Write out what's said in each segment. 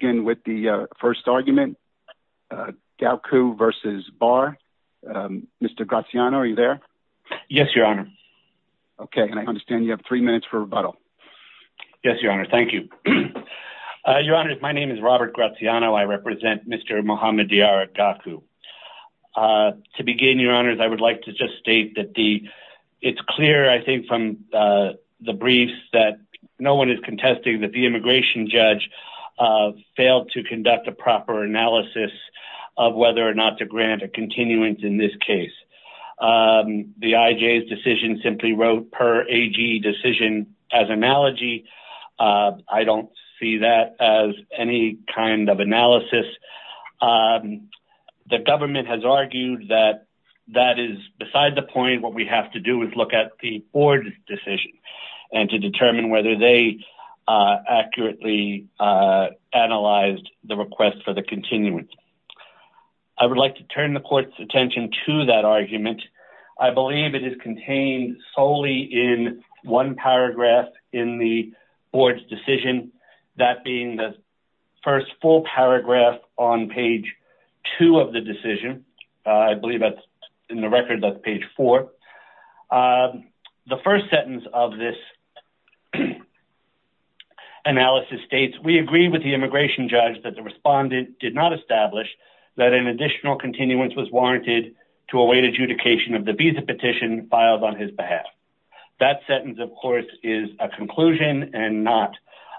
Mr. Graciano, are you there? Yes, Your Honor. Okay, and I understand you have three minutes for rebuttal. Yes, Your Honor. Thank you. Your Honor, my name is Robert Graciano. I represent Mr. Mohamed Diarra Gakou. To begin, Your Honors, I would like to just state that it's clear, I think, from the briefs that no one is contesting that the immigration judge failed to conduct a proper analysis of whether or not to grant a continuance in this case. The IJ's decision simply wrote per AG decision as analogy. I don't see that as any kind of analysis. The government has argued that that is beside the point. What we have to do is look at the board's decision and to determine whether they accurately analyzed the request for the continuance. I would like to turn the court's attention to that argument. I believe it is contained solely in one paragraph in the board's decision, that being the first full paragraph on page 2 of the decision. I believe that's in the record, that's page 4. The first sentence of this analysis states, we agree with the immigration judge that the respondent did not establish that an additional continuance was warranted to await adjudication of the visa petition filed on his behalf. That sentence, of course, is a conclusion and not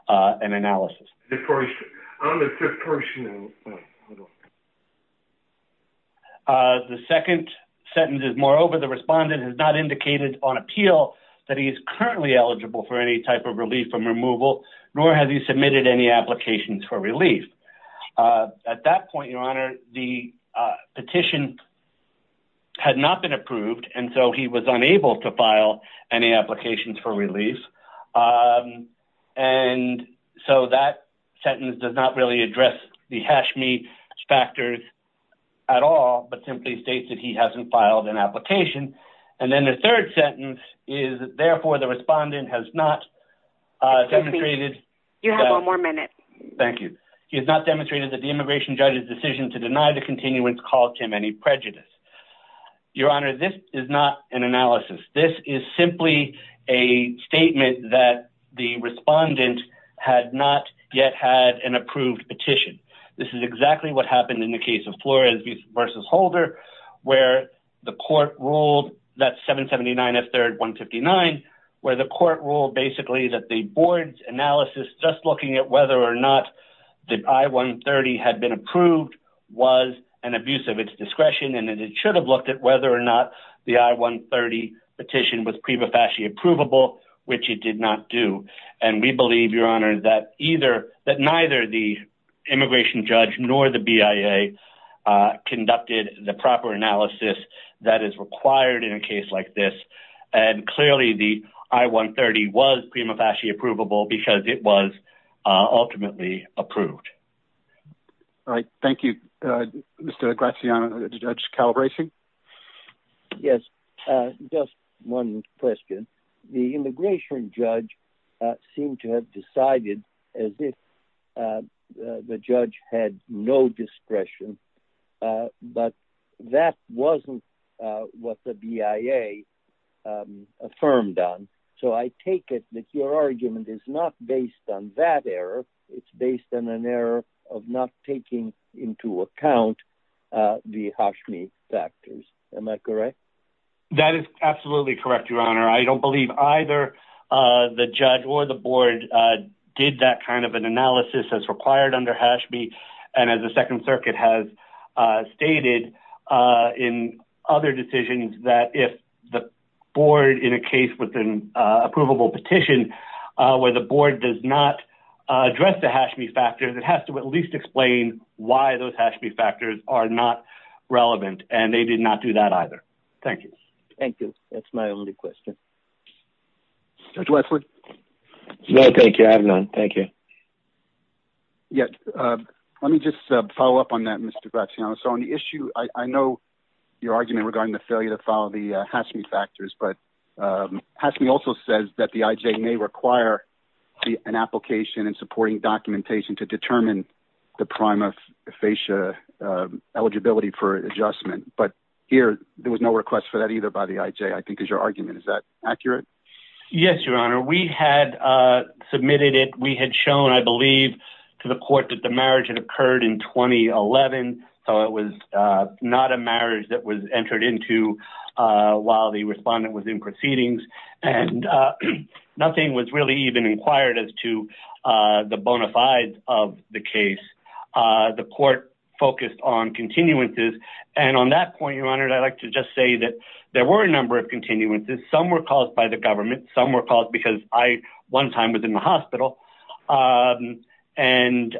an analysis. The second sentence is, moreover, the respondent has not indicated on appeal that he is currently eligible for any type of relief from removal, nor has he submitted any applications for relief. At that point, your honor, the petition had not been approved, and so he was unable to file any applications for relief, and so that sentence does not really address the Hashmi factors at all, but simply states that he hasn't filed an application. And then the third sentence is, therefore, the respondent has not demonstrated You have one more minute. Thank you. He has not demonstrated that the immigration judge's decision to deny the continuance caused him any prejudice. Your honor, this is not an analysis. This is simply a statement that the respondent had not yet had an approved petition. This is exactly what happened in the case of Flores v. Holder, where the court ruled, that's 779 F. 3rd 159, where the court ruled basically that the board's analysis, just looking at whether or not the I-130 had been approved, was an abuse of its discretion, and it should have looked at whether or not the I-130 petition was prima facie approvable, which it did not do, and we believe, your honor, that neither the immigration judge nor the BIA conducted the proper analysis that is required in a case like this, and clearly the I-130 was prima facie approvable because it was ultimately approved. All right, thank you. Mr. Graziano, Judge Calabresi? Yes, just one question. The immigration judge seemed to have decided as if the judge had no discretion, but that wasn't what the BIA affirmed on, so I take it that your argument is not based on that error. It's based on an error of not taking into account the Hashmi factors. Am I correct? That is absolutely correct, your honor. I don't believe either the judge or the board did that kind of an analysis as required under Hashmi, and as the Second Circuit has stated in other decisions, that if the board, in a case with an approvable petition, where the board does not address the Hashmi factors, it has to at least explain why those Hashmi factors are not relevant, and they did not do that either. Thank you. Thank you. That's my only question. Judge Westwood? No, thank you. I have none. Thank you. Yes, let me just follow up on that, Mr. Graziano. So on the issue, I know your argument regarding the failure to follow the Hashmi factors, but Hashmi also says that the IJ may require an application and supporting documentation to determine the prima facie eligibility for adjustment, but here, there was no request for that either by the IJ, I think, is your argument. Is that accurate? Yes, your honor. We had submitted it. We had shown, I believe, to the court that the marriage had occurred in 2011, so it was not a marriage that was entered into while the respondent was in proceedings, and nothing was really even inquired as to the bona fides of the case. The court focused on continuances, and on that point, your honor, I'd like to just say that there were a number of continuances. Some were caused by the government. Some were caused because I, one time, was in the hospital, and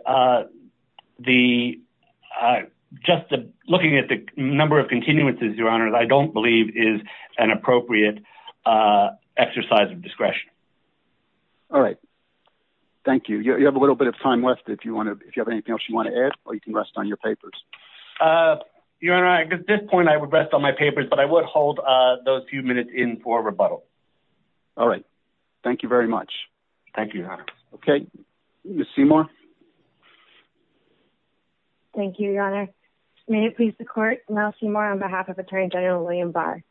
just looking at the number of continuances, your honor, I don't believe is an appropriate exercise of discretion. All right. Thank you. You have a little bit of time left if you have anything else you want to add, or you can rest on your papers. Your honor, at this point, I would rest on my papers, but I would hold those few minutes in for rebuttal. All right. Thank you very much. Thank you, your honor. Okay. Ms. Seymour. Thank you, your honor. May it please the court, Mel Seymour on behalf of Attorney General William Barr.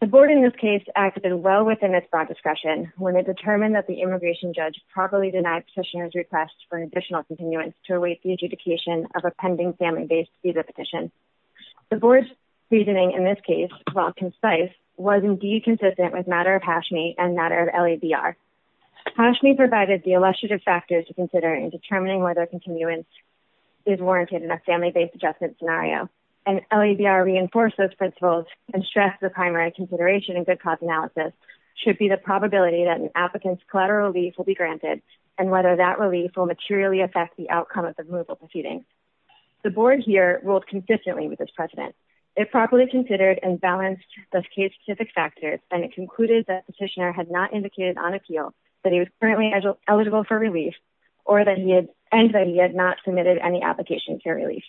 The board in this case acted well within its broad discretion when it determined that the immigration judge properly denied petitioner's request for an additional continuance to await the adjudication of a pending family-based visa petition. The board's reasoning in this case, while concise, was indeed consistent with matter of Hashmi and matter of LABR. Hashmi provided the illustrative factors to consider in determining whether continuance is warranted in a family-based adjustment scenario, and LABR reinforced those principles and stressed the primary consideration in good cause analysis should be the probability that an applicant's collateral relief will be granted, and whether that relief will materially affect the outcome of the removal proceeding. The board here ruled consistently with this precedent. It properly considered and balanced the case-specific factors, and it concluded that the petitioner had not indicated on appeal that he was currently eligible for relief, and that he had not submitted any application for relief.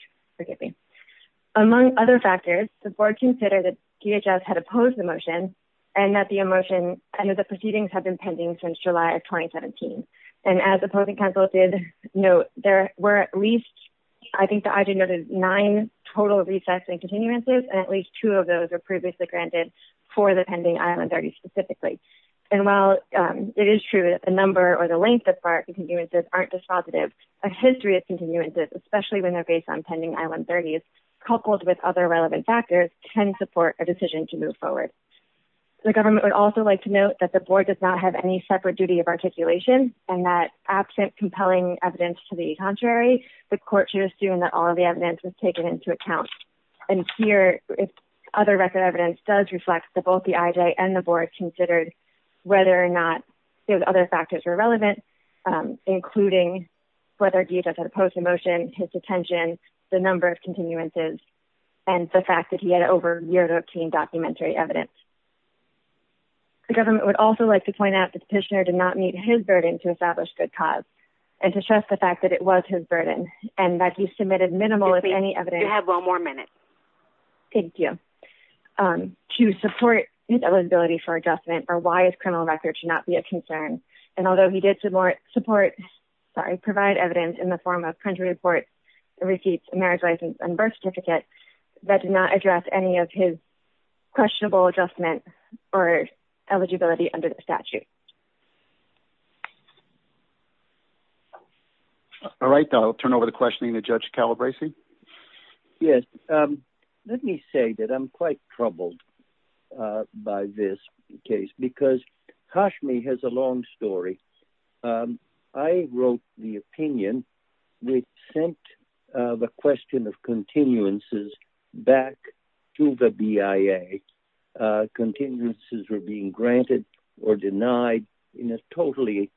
Among other factors, the board considered that DHS had opposed the motion, and that the proceedings had been pending since July of 2017. As opposing counsel did note, there were at least nine total recesses and continuances, and at least two of those were previously granted for the pending I-130 specifically. While it is true that the number or the length of FAR continuances aren't dispositive, a history of continuances, especially when they're based on pending I-130s, coupled with other relevant factors, can support a decision to move forward. The government would also like to note that the board does not have any separate duty of articulation, and that absent compelling evidence to the contrary, the court should assume that all of the evidence was taken into account. And here, other record evidence does reflect that both the IJ and the board considered whether or not those other factors were relevant, including whether DHS had opposed the motion, his detention, the number of continuances, and the fact that he had over a year to obtain documentary evidence. The government would also like to point out that the petitioner did not meet his burden to establish good cause, and to stress the fact that it was his burden, and that he submitted minimal, if any, evidence. You have one more minute. Thank you. To support his eligibility for adjustment, or why his criminal record should not be a concern, and although he did provide evidence in the form of country reports, receipts, marriage license, and birth certificate, that did not address any of his questionable adjustment or eligibility under the statute. All right, I'll turn over the questioning to Judge Calabresi. Yes, let me say that I'm quite troubled by this case because Kashmi has a long story. I wrote the opinion which sent the question of continuances back to the BIA. Continuances were being granted or denied in a totally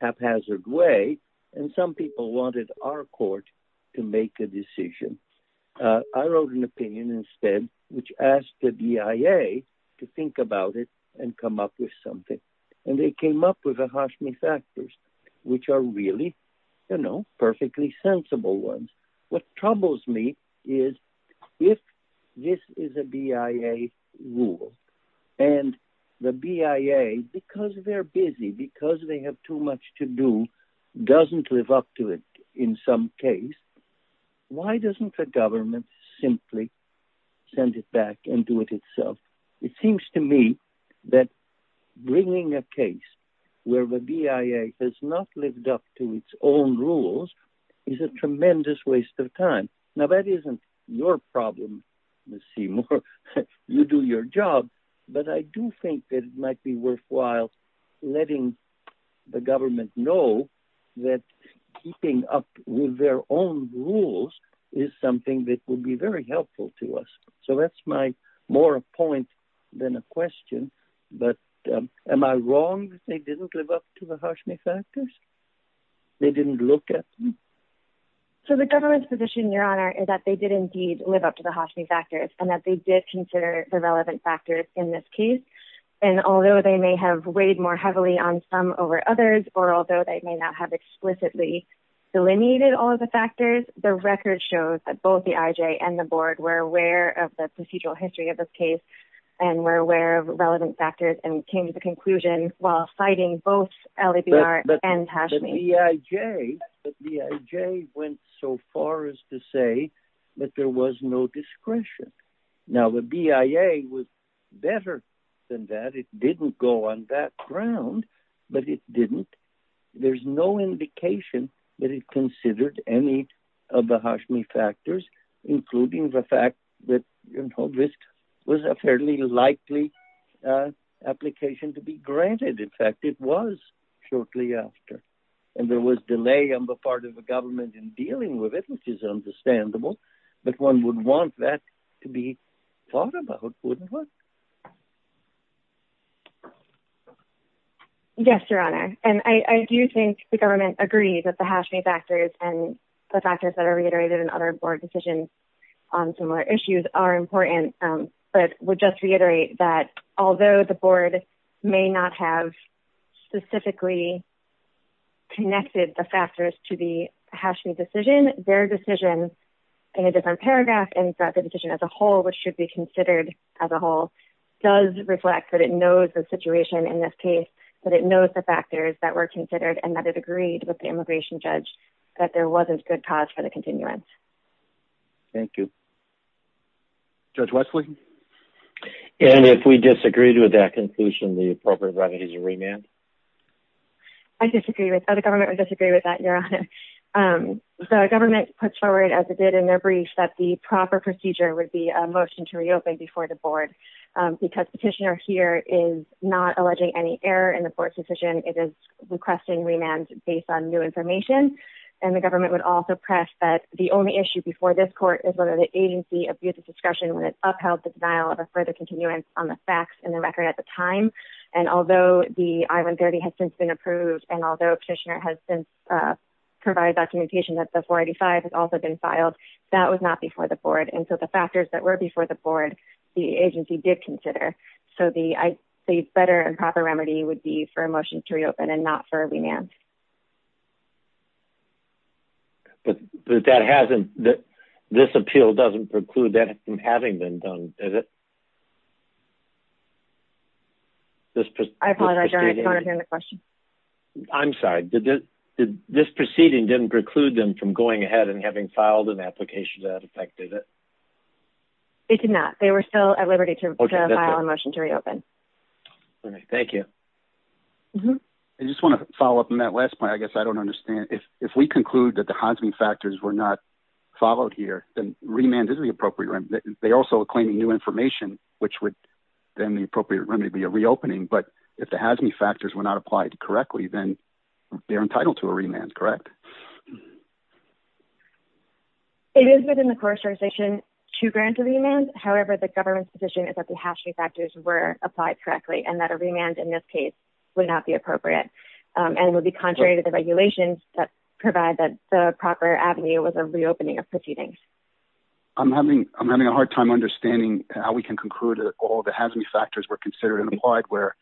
haphazard way, and some people wanted our court to make a decision. I wrote an opinion instead which asked the BIA to think about it and come up with something, and they came up with the Kashmi factors, which are really, you know, perfectly sensible ones. What troubles me is if this is a BIA rule, and the BIA, because they're busy, because they have too much to do, doesn't live up to it in some case, why doesn't the government simply send it back and do it itself? It seems to me that bringing a case where the BIA has not lived up to its own rules is a tremendous waste of time. Now, that isn't your problem, Ms. Seymour. You do your job. But I do think that it might be worthwhile letting the government know that keeping up with their own rules is something that would be very helpful to us. So that's my more a point than a question. But am I wrong that they didn't live up to the Kashmi factors? They didn't look at them? So the government's position, Your Honor, is that they did indeed live up to the Kashmi factors, and that they did consider the relevant factors in this case. And although they may have weighed more heavily on some over others, or although they may not have explicitly delineated all of the factors, the record shows that both the IJ and the board were aware of the procedural history of this case and were aware of relevant factors and came to the conclusion while fighting both LABR and Kashmi. The IJ went so far as to say that there was no discretion. Now, the BIA was better than that. It didn't go on that ground, but it didn't. There's no indication that it considered any of the Kashmi factors, including the fact that risk was a fairly likely application to be granted. In fact, it was shortly after. And there was delay on the part of the government in dealing with it, which is understandable. But one would want that to be thought about, wouldn't one? Yes, Your Honor. And I do think the government agrees that the Kashmi factors and the factors that are reiterated in other board decisions on similar issues are important. But we'll just reiterate that although the board may not have specifically connected the factors to the Kashmi decision, their decision in a different paragraph and that the decision as a whole, which should be considered as a whole, does reflect that it knows the situation in this case, that it knows the factors that were considered, and that it agreed with the immigration judge that there wasn't good cause for the continuance. Thank you. Judge Westley? And if we disagreed with that conclusion, the appropriate remedy is a remand. I disagree with that. The government would disagree with that, Your Honor. The government puts forward, as it did in their brief, that the proper procedure would be a motion to reopen before the board. Because petitioner here is not alleging any error in the board's decision. It is requesting remand based on new information. And the government would also press that the only issue before this court is whether the agency abused its discretion when it upheld the denial of a further continuance on the facts and the record at the time. And although the I-130 has since been approved, and although petitioner has since provided documentation that the 485 has also been filed, that was not before the board. And so the factors that were before the board, the agency did consider. So the better and proper remedy would be for a motion to reopen and not for a remand. But this appeal doesn't preclude that from having been done, does it? I apologize, Your Honor. I don't understand the question. I'm sorry. This proceeding didn't preclude them from going ahead and having filed an application that affected it? It did not. They were still at liberty to file a motion to reopen. All right. Thank you. I just want to follow up on that last point. I guess I don't understand. If we conclude that the HAZME factors were not followed here, then remand is the appropriate remedy. They also are claiming new information, which would then the appropriate remedy be a reopening. But if the HAZME factors were not applied correctly, then they're entitled to a remand, correct? It is within the court's jurisdiction to grant a remand. However, the government's position is that the HAZME factors were applied correctly and that a remand in this case would not be appropriate. And it would be contrary to the regulations that provide that the proper avenue was a reopening of proceedings. I'm having a hard time understanding how we can conclude that all the HAZME factors were considered and applied, where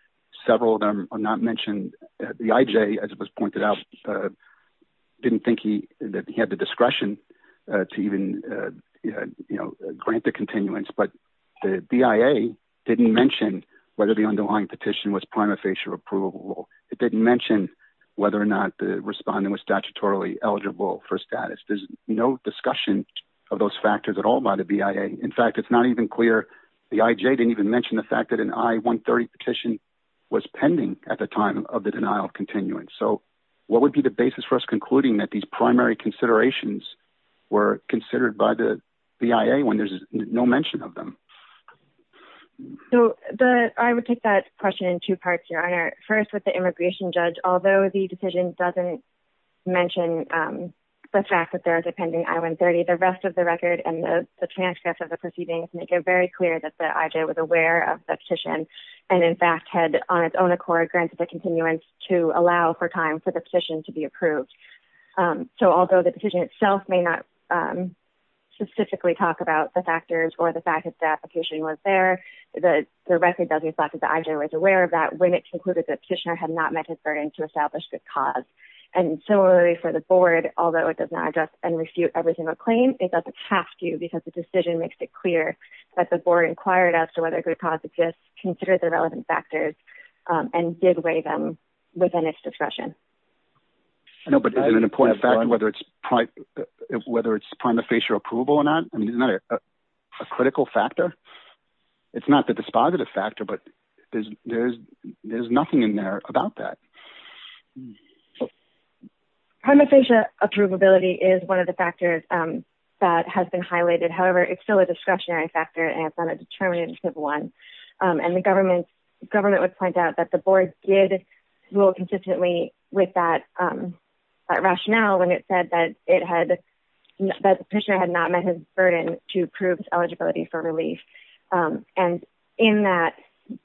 several of them are not mentioned. The IJ, as it was pointed out, didn't think that he had the discretion to even, you know, grant the continuance. But the BIA didn't mention whether the underlying petition was prima facie or approvable. It didn't mention whether or not the respondent was statutorily eligible for status. There's no discussion of those factors at all by the BIA. In fact, it's not even clear. The IJ didn't even mention the fact that an I-130 petition was pending at the time of the denial of continuance. So what would be the basis for us concluding that these primary considerations were considered by the BIA when there's no mention of them? So I would take that question in two parts, Your Honor. First, with the immigration judge, although the decision doesn't mention the fact that there's a pending I-130, the rest of the record and the transcripts of the proceedings make it very clear that the IJ was aware of the petition and in fact had on its own accord granted the continuance to allow for time for the petition to be approved. So although the petition itself may not specifically talk about the factors or the fact that the application was there, the record doesn't reflect that the IJ was aware of that when it concluded that the petitioner had not met his burden to establish good cause. And similarly for the board, although it does not address and refute every single claim, it doesn't have to because the decision makes it clear that the board inquired as to whether good cause exists, considered the relevant factors, and did weigh them within its discretion. No, but is it an important factor whether it's prima facie approvable or not? I mean, isn't that a critical factor? It's not the dispositive factor, but there's nothing in there about that. Prima facie approvability is one of the factors that has been highlighted. However, it's still a discretionary factor and it's not a determinative one. And the government would point out that the board did rule consistently with that rationale when it said that the petitioner had not met his burden to approve eligibility for relief. And in that,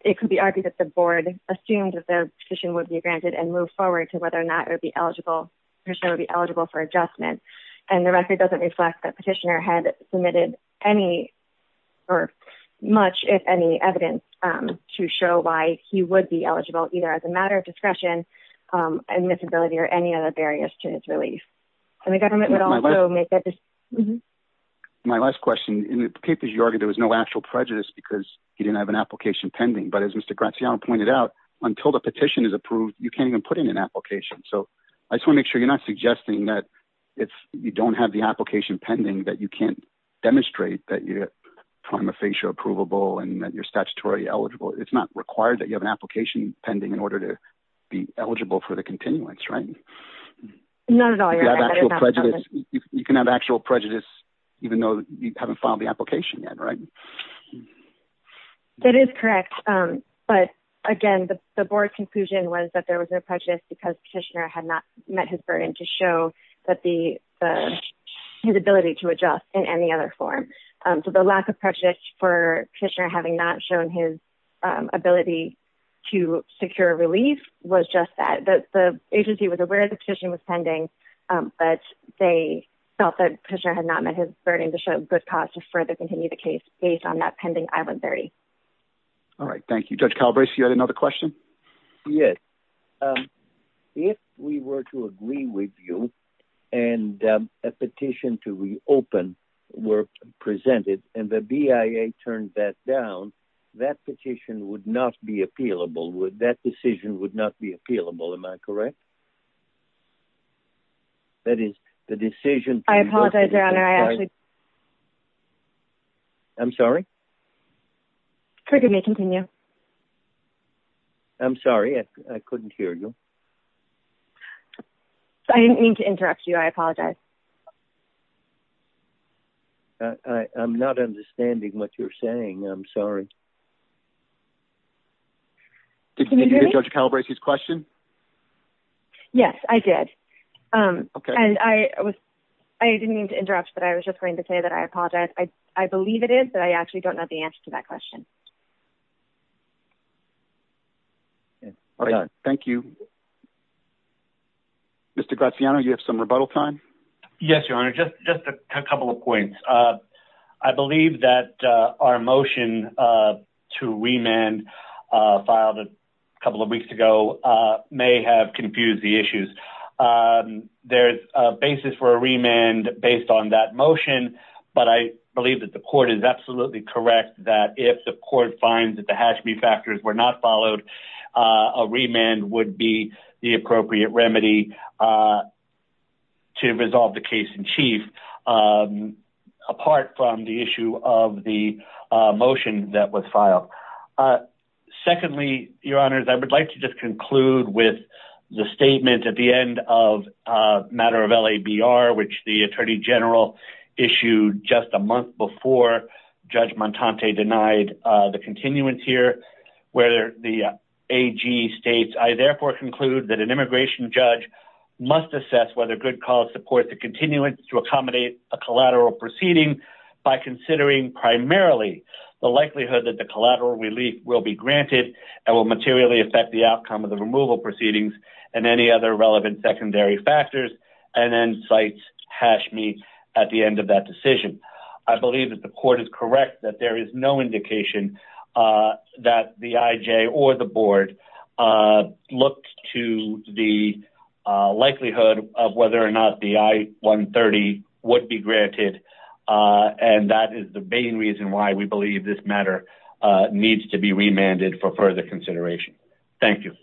it could be argued that the board assumed that the petition would be granted and moved forward to whether or not the petitioner would be eligible for adjustment. And the record doesn't reflect that petitioner had submitted any or much, if any, evidence to show why he would be eligible either as a matter of discretion, admissibility, or any other barriers to his relief. My last question, in the papers you argued there was no actual prejudice because he didn't have an application pending. But as Mr. Graziano pointed out, until the petition is approved, you can't even put in an application. So I just want to make sure you're not suggesting that if you don't have the application pending that you can't demonstrate that you're prima facie approvable and that you're statutorily eligible. It's not required that you have an application pending in order to be eligible for the continuance, right? Not at all. You can have actual prejudice even though you haven't filed the application yet, right? That is correct. But again, the board's conclusion was that there was no prejudice because petitioner had not met his burden to show his ability to adjust in any other form. So the lack of prejudice for petitioner having not shown his ability to secure relief was just that. The agency was aware the petition was pending, but they felt that petitioner had not met his burden to show good cause to further continue the case based on that pending I-130. Thank you. Judge Calabresi, you had another question? Yes. If we were to agree with you and a petition to reopen were presented and the BIA turned that down, that petition would not be appealable. That decision would not be appealable. Am I correct? That is, the decision... I apologize, Your Honor. I actually... I'm sorry? Could we continue? I'm sorry. I couldn't hear you. I didn't mean to interrupt you. I apologize. I'm not understanding what you're saying. I'm sorry. Did you hear Judge Calabresi's question? Yes, I did. And I didn't mean to interrupt, but I was just going to say that I apologize. I believe it is, but I actually don't know the answer to that question. Thank you. Mr. Graziano, you have some rebuttal time? Yes, Your Honor. Just a couple of points. I believe that our motion to remand filed a couple of weeks ago may have confused the issues. There's a basis for a remand based on that motion, but I believe that the court is absolutely correct that if the court finds that the Hashmi factors were not followed, a remand would be the appropriate remedy to resolve the case in chief, apart from the issue of the motion that was filed. Secondly, Your Honor, I would like to just conclude with the statement at the end of a matter of LABR, which the Attorney General issued just a month before Judge Montante denied the continuance here, where the AG states, I therefore conclude that an immigration judge must assess whether good cause supports the continuance to accommodate a collateral proceeding by considering primarily the likelihood that the collateral relief will be granted and will materially affect the outcome of the removal proceedings and any other relevant secondary factors, and then cites Hashmi at the end of that decision. I believe that the court is correct that there is no indication that the IJ or the Board looked to the likelihood of whether or not the I-130 would be granted, and that is the main reason why we believe this matter needs to be remanded for further consideration. Thank you.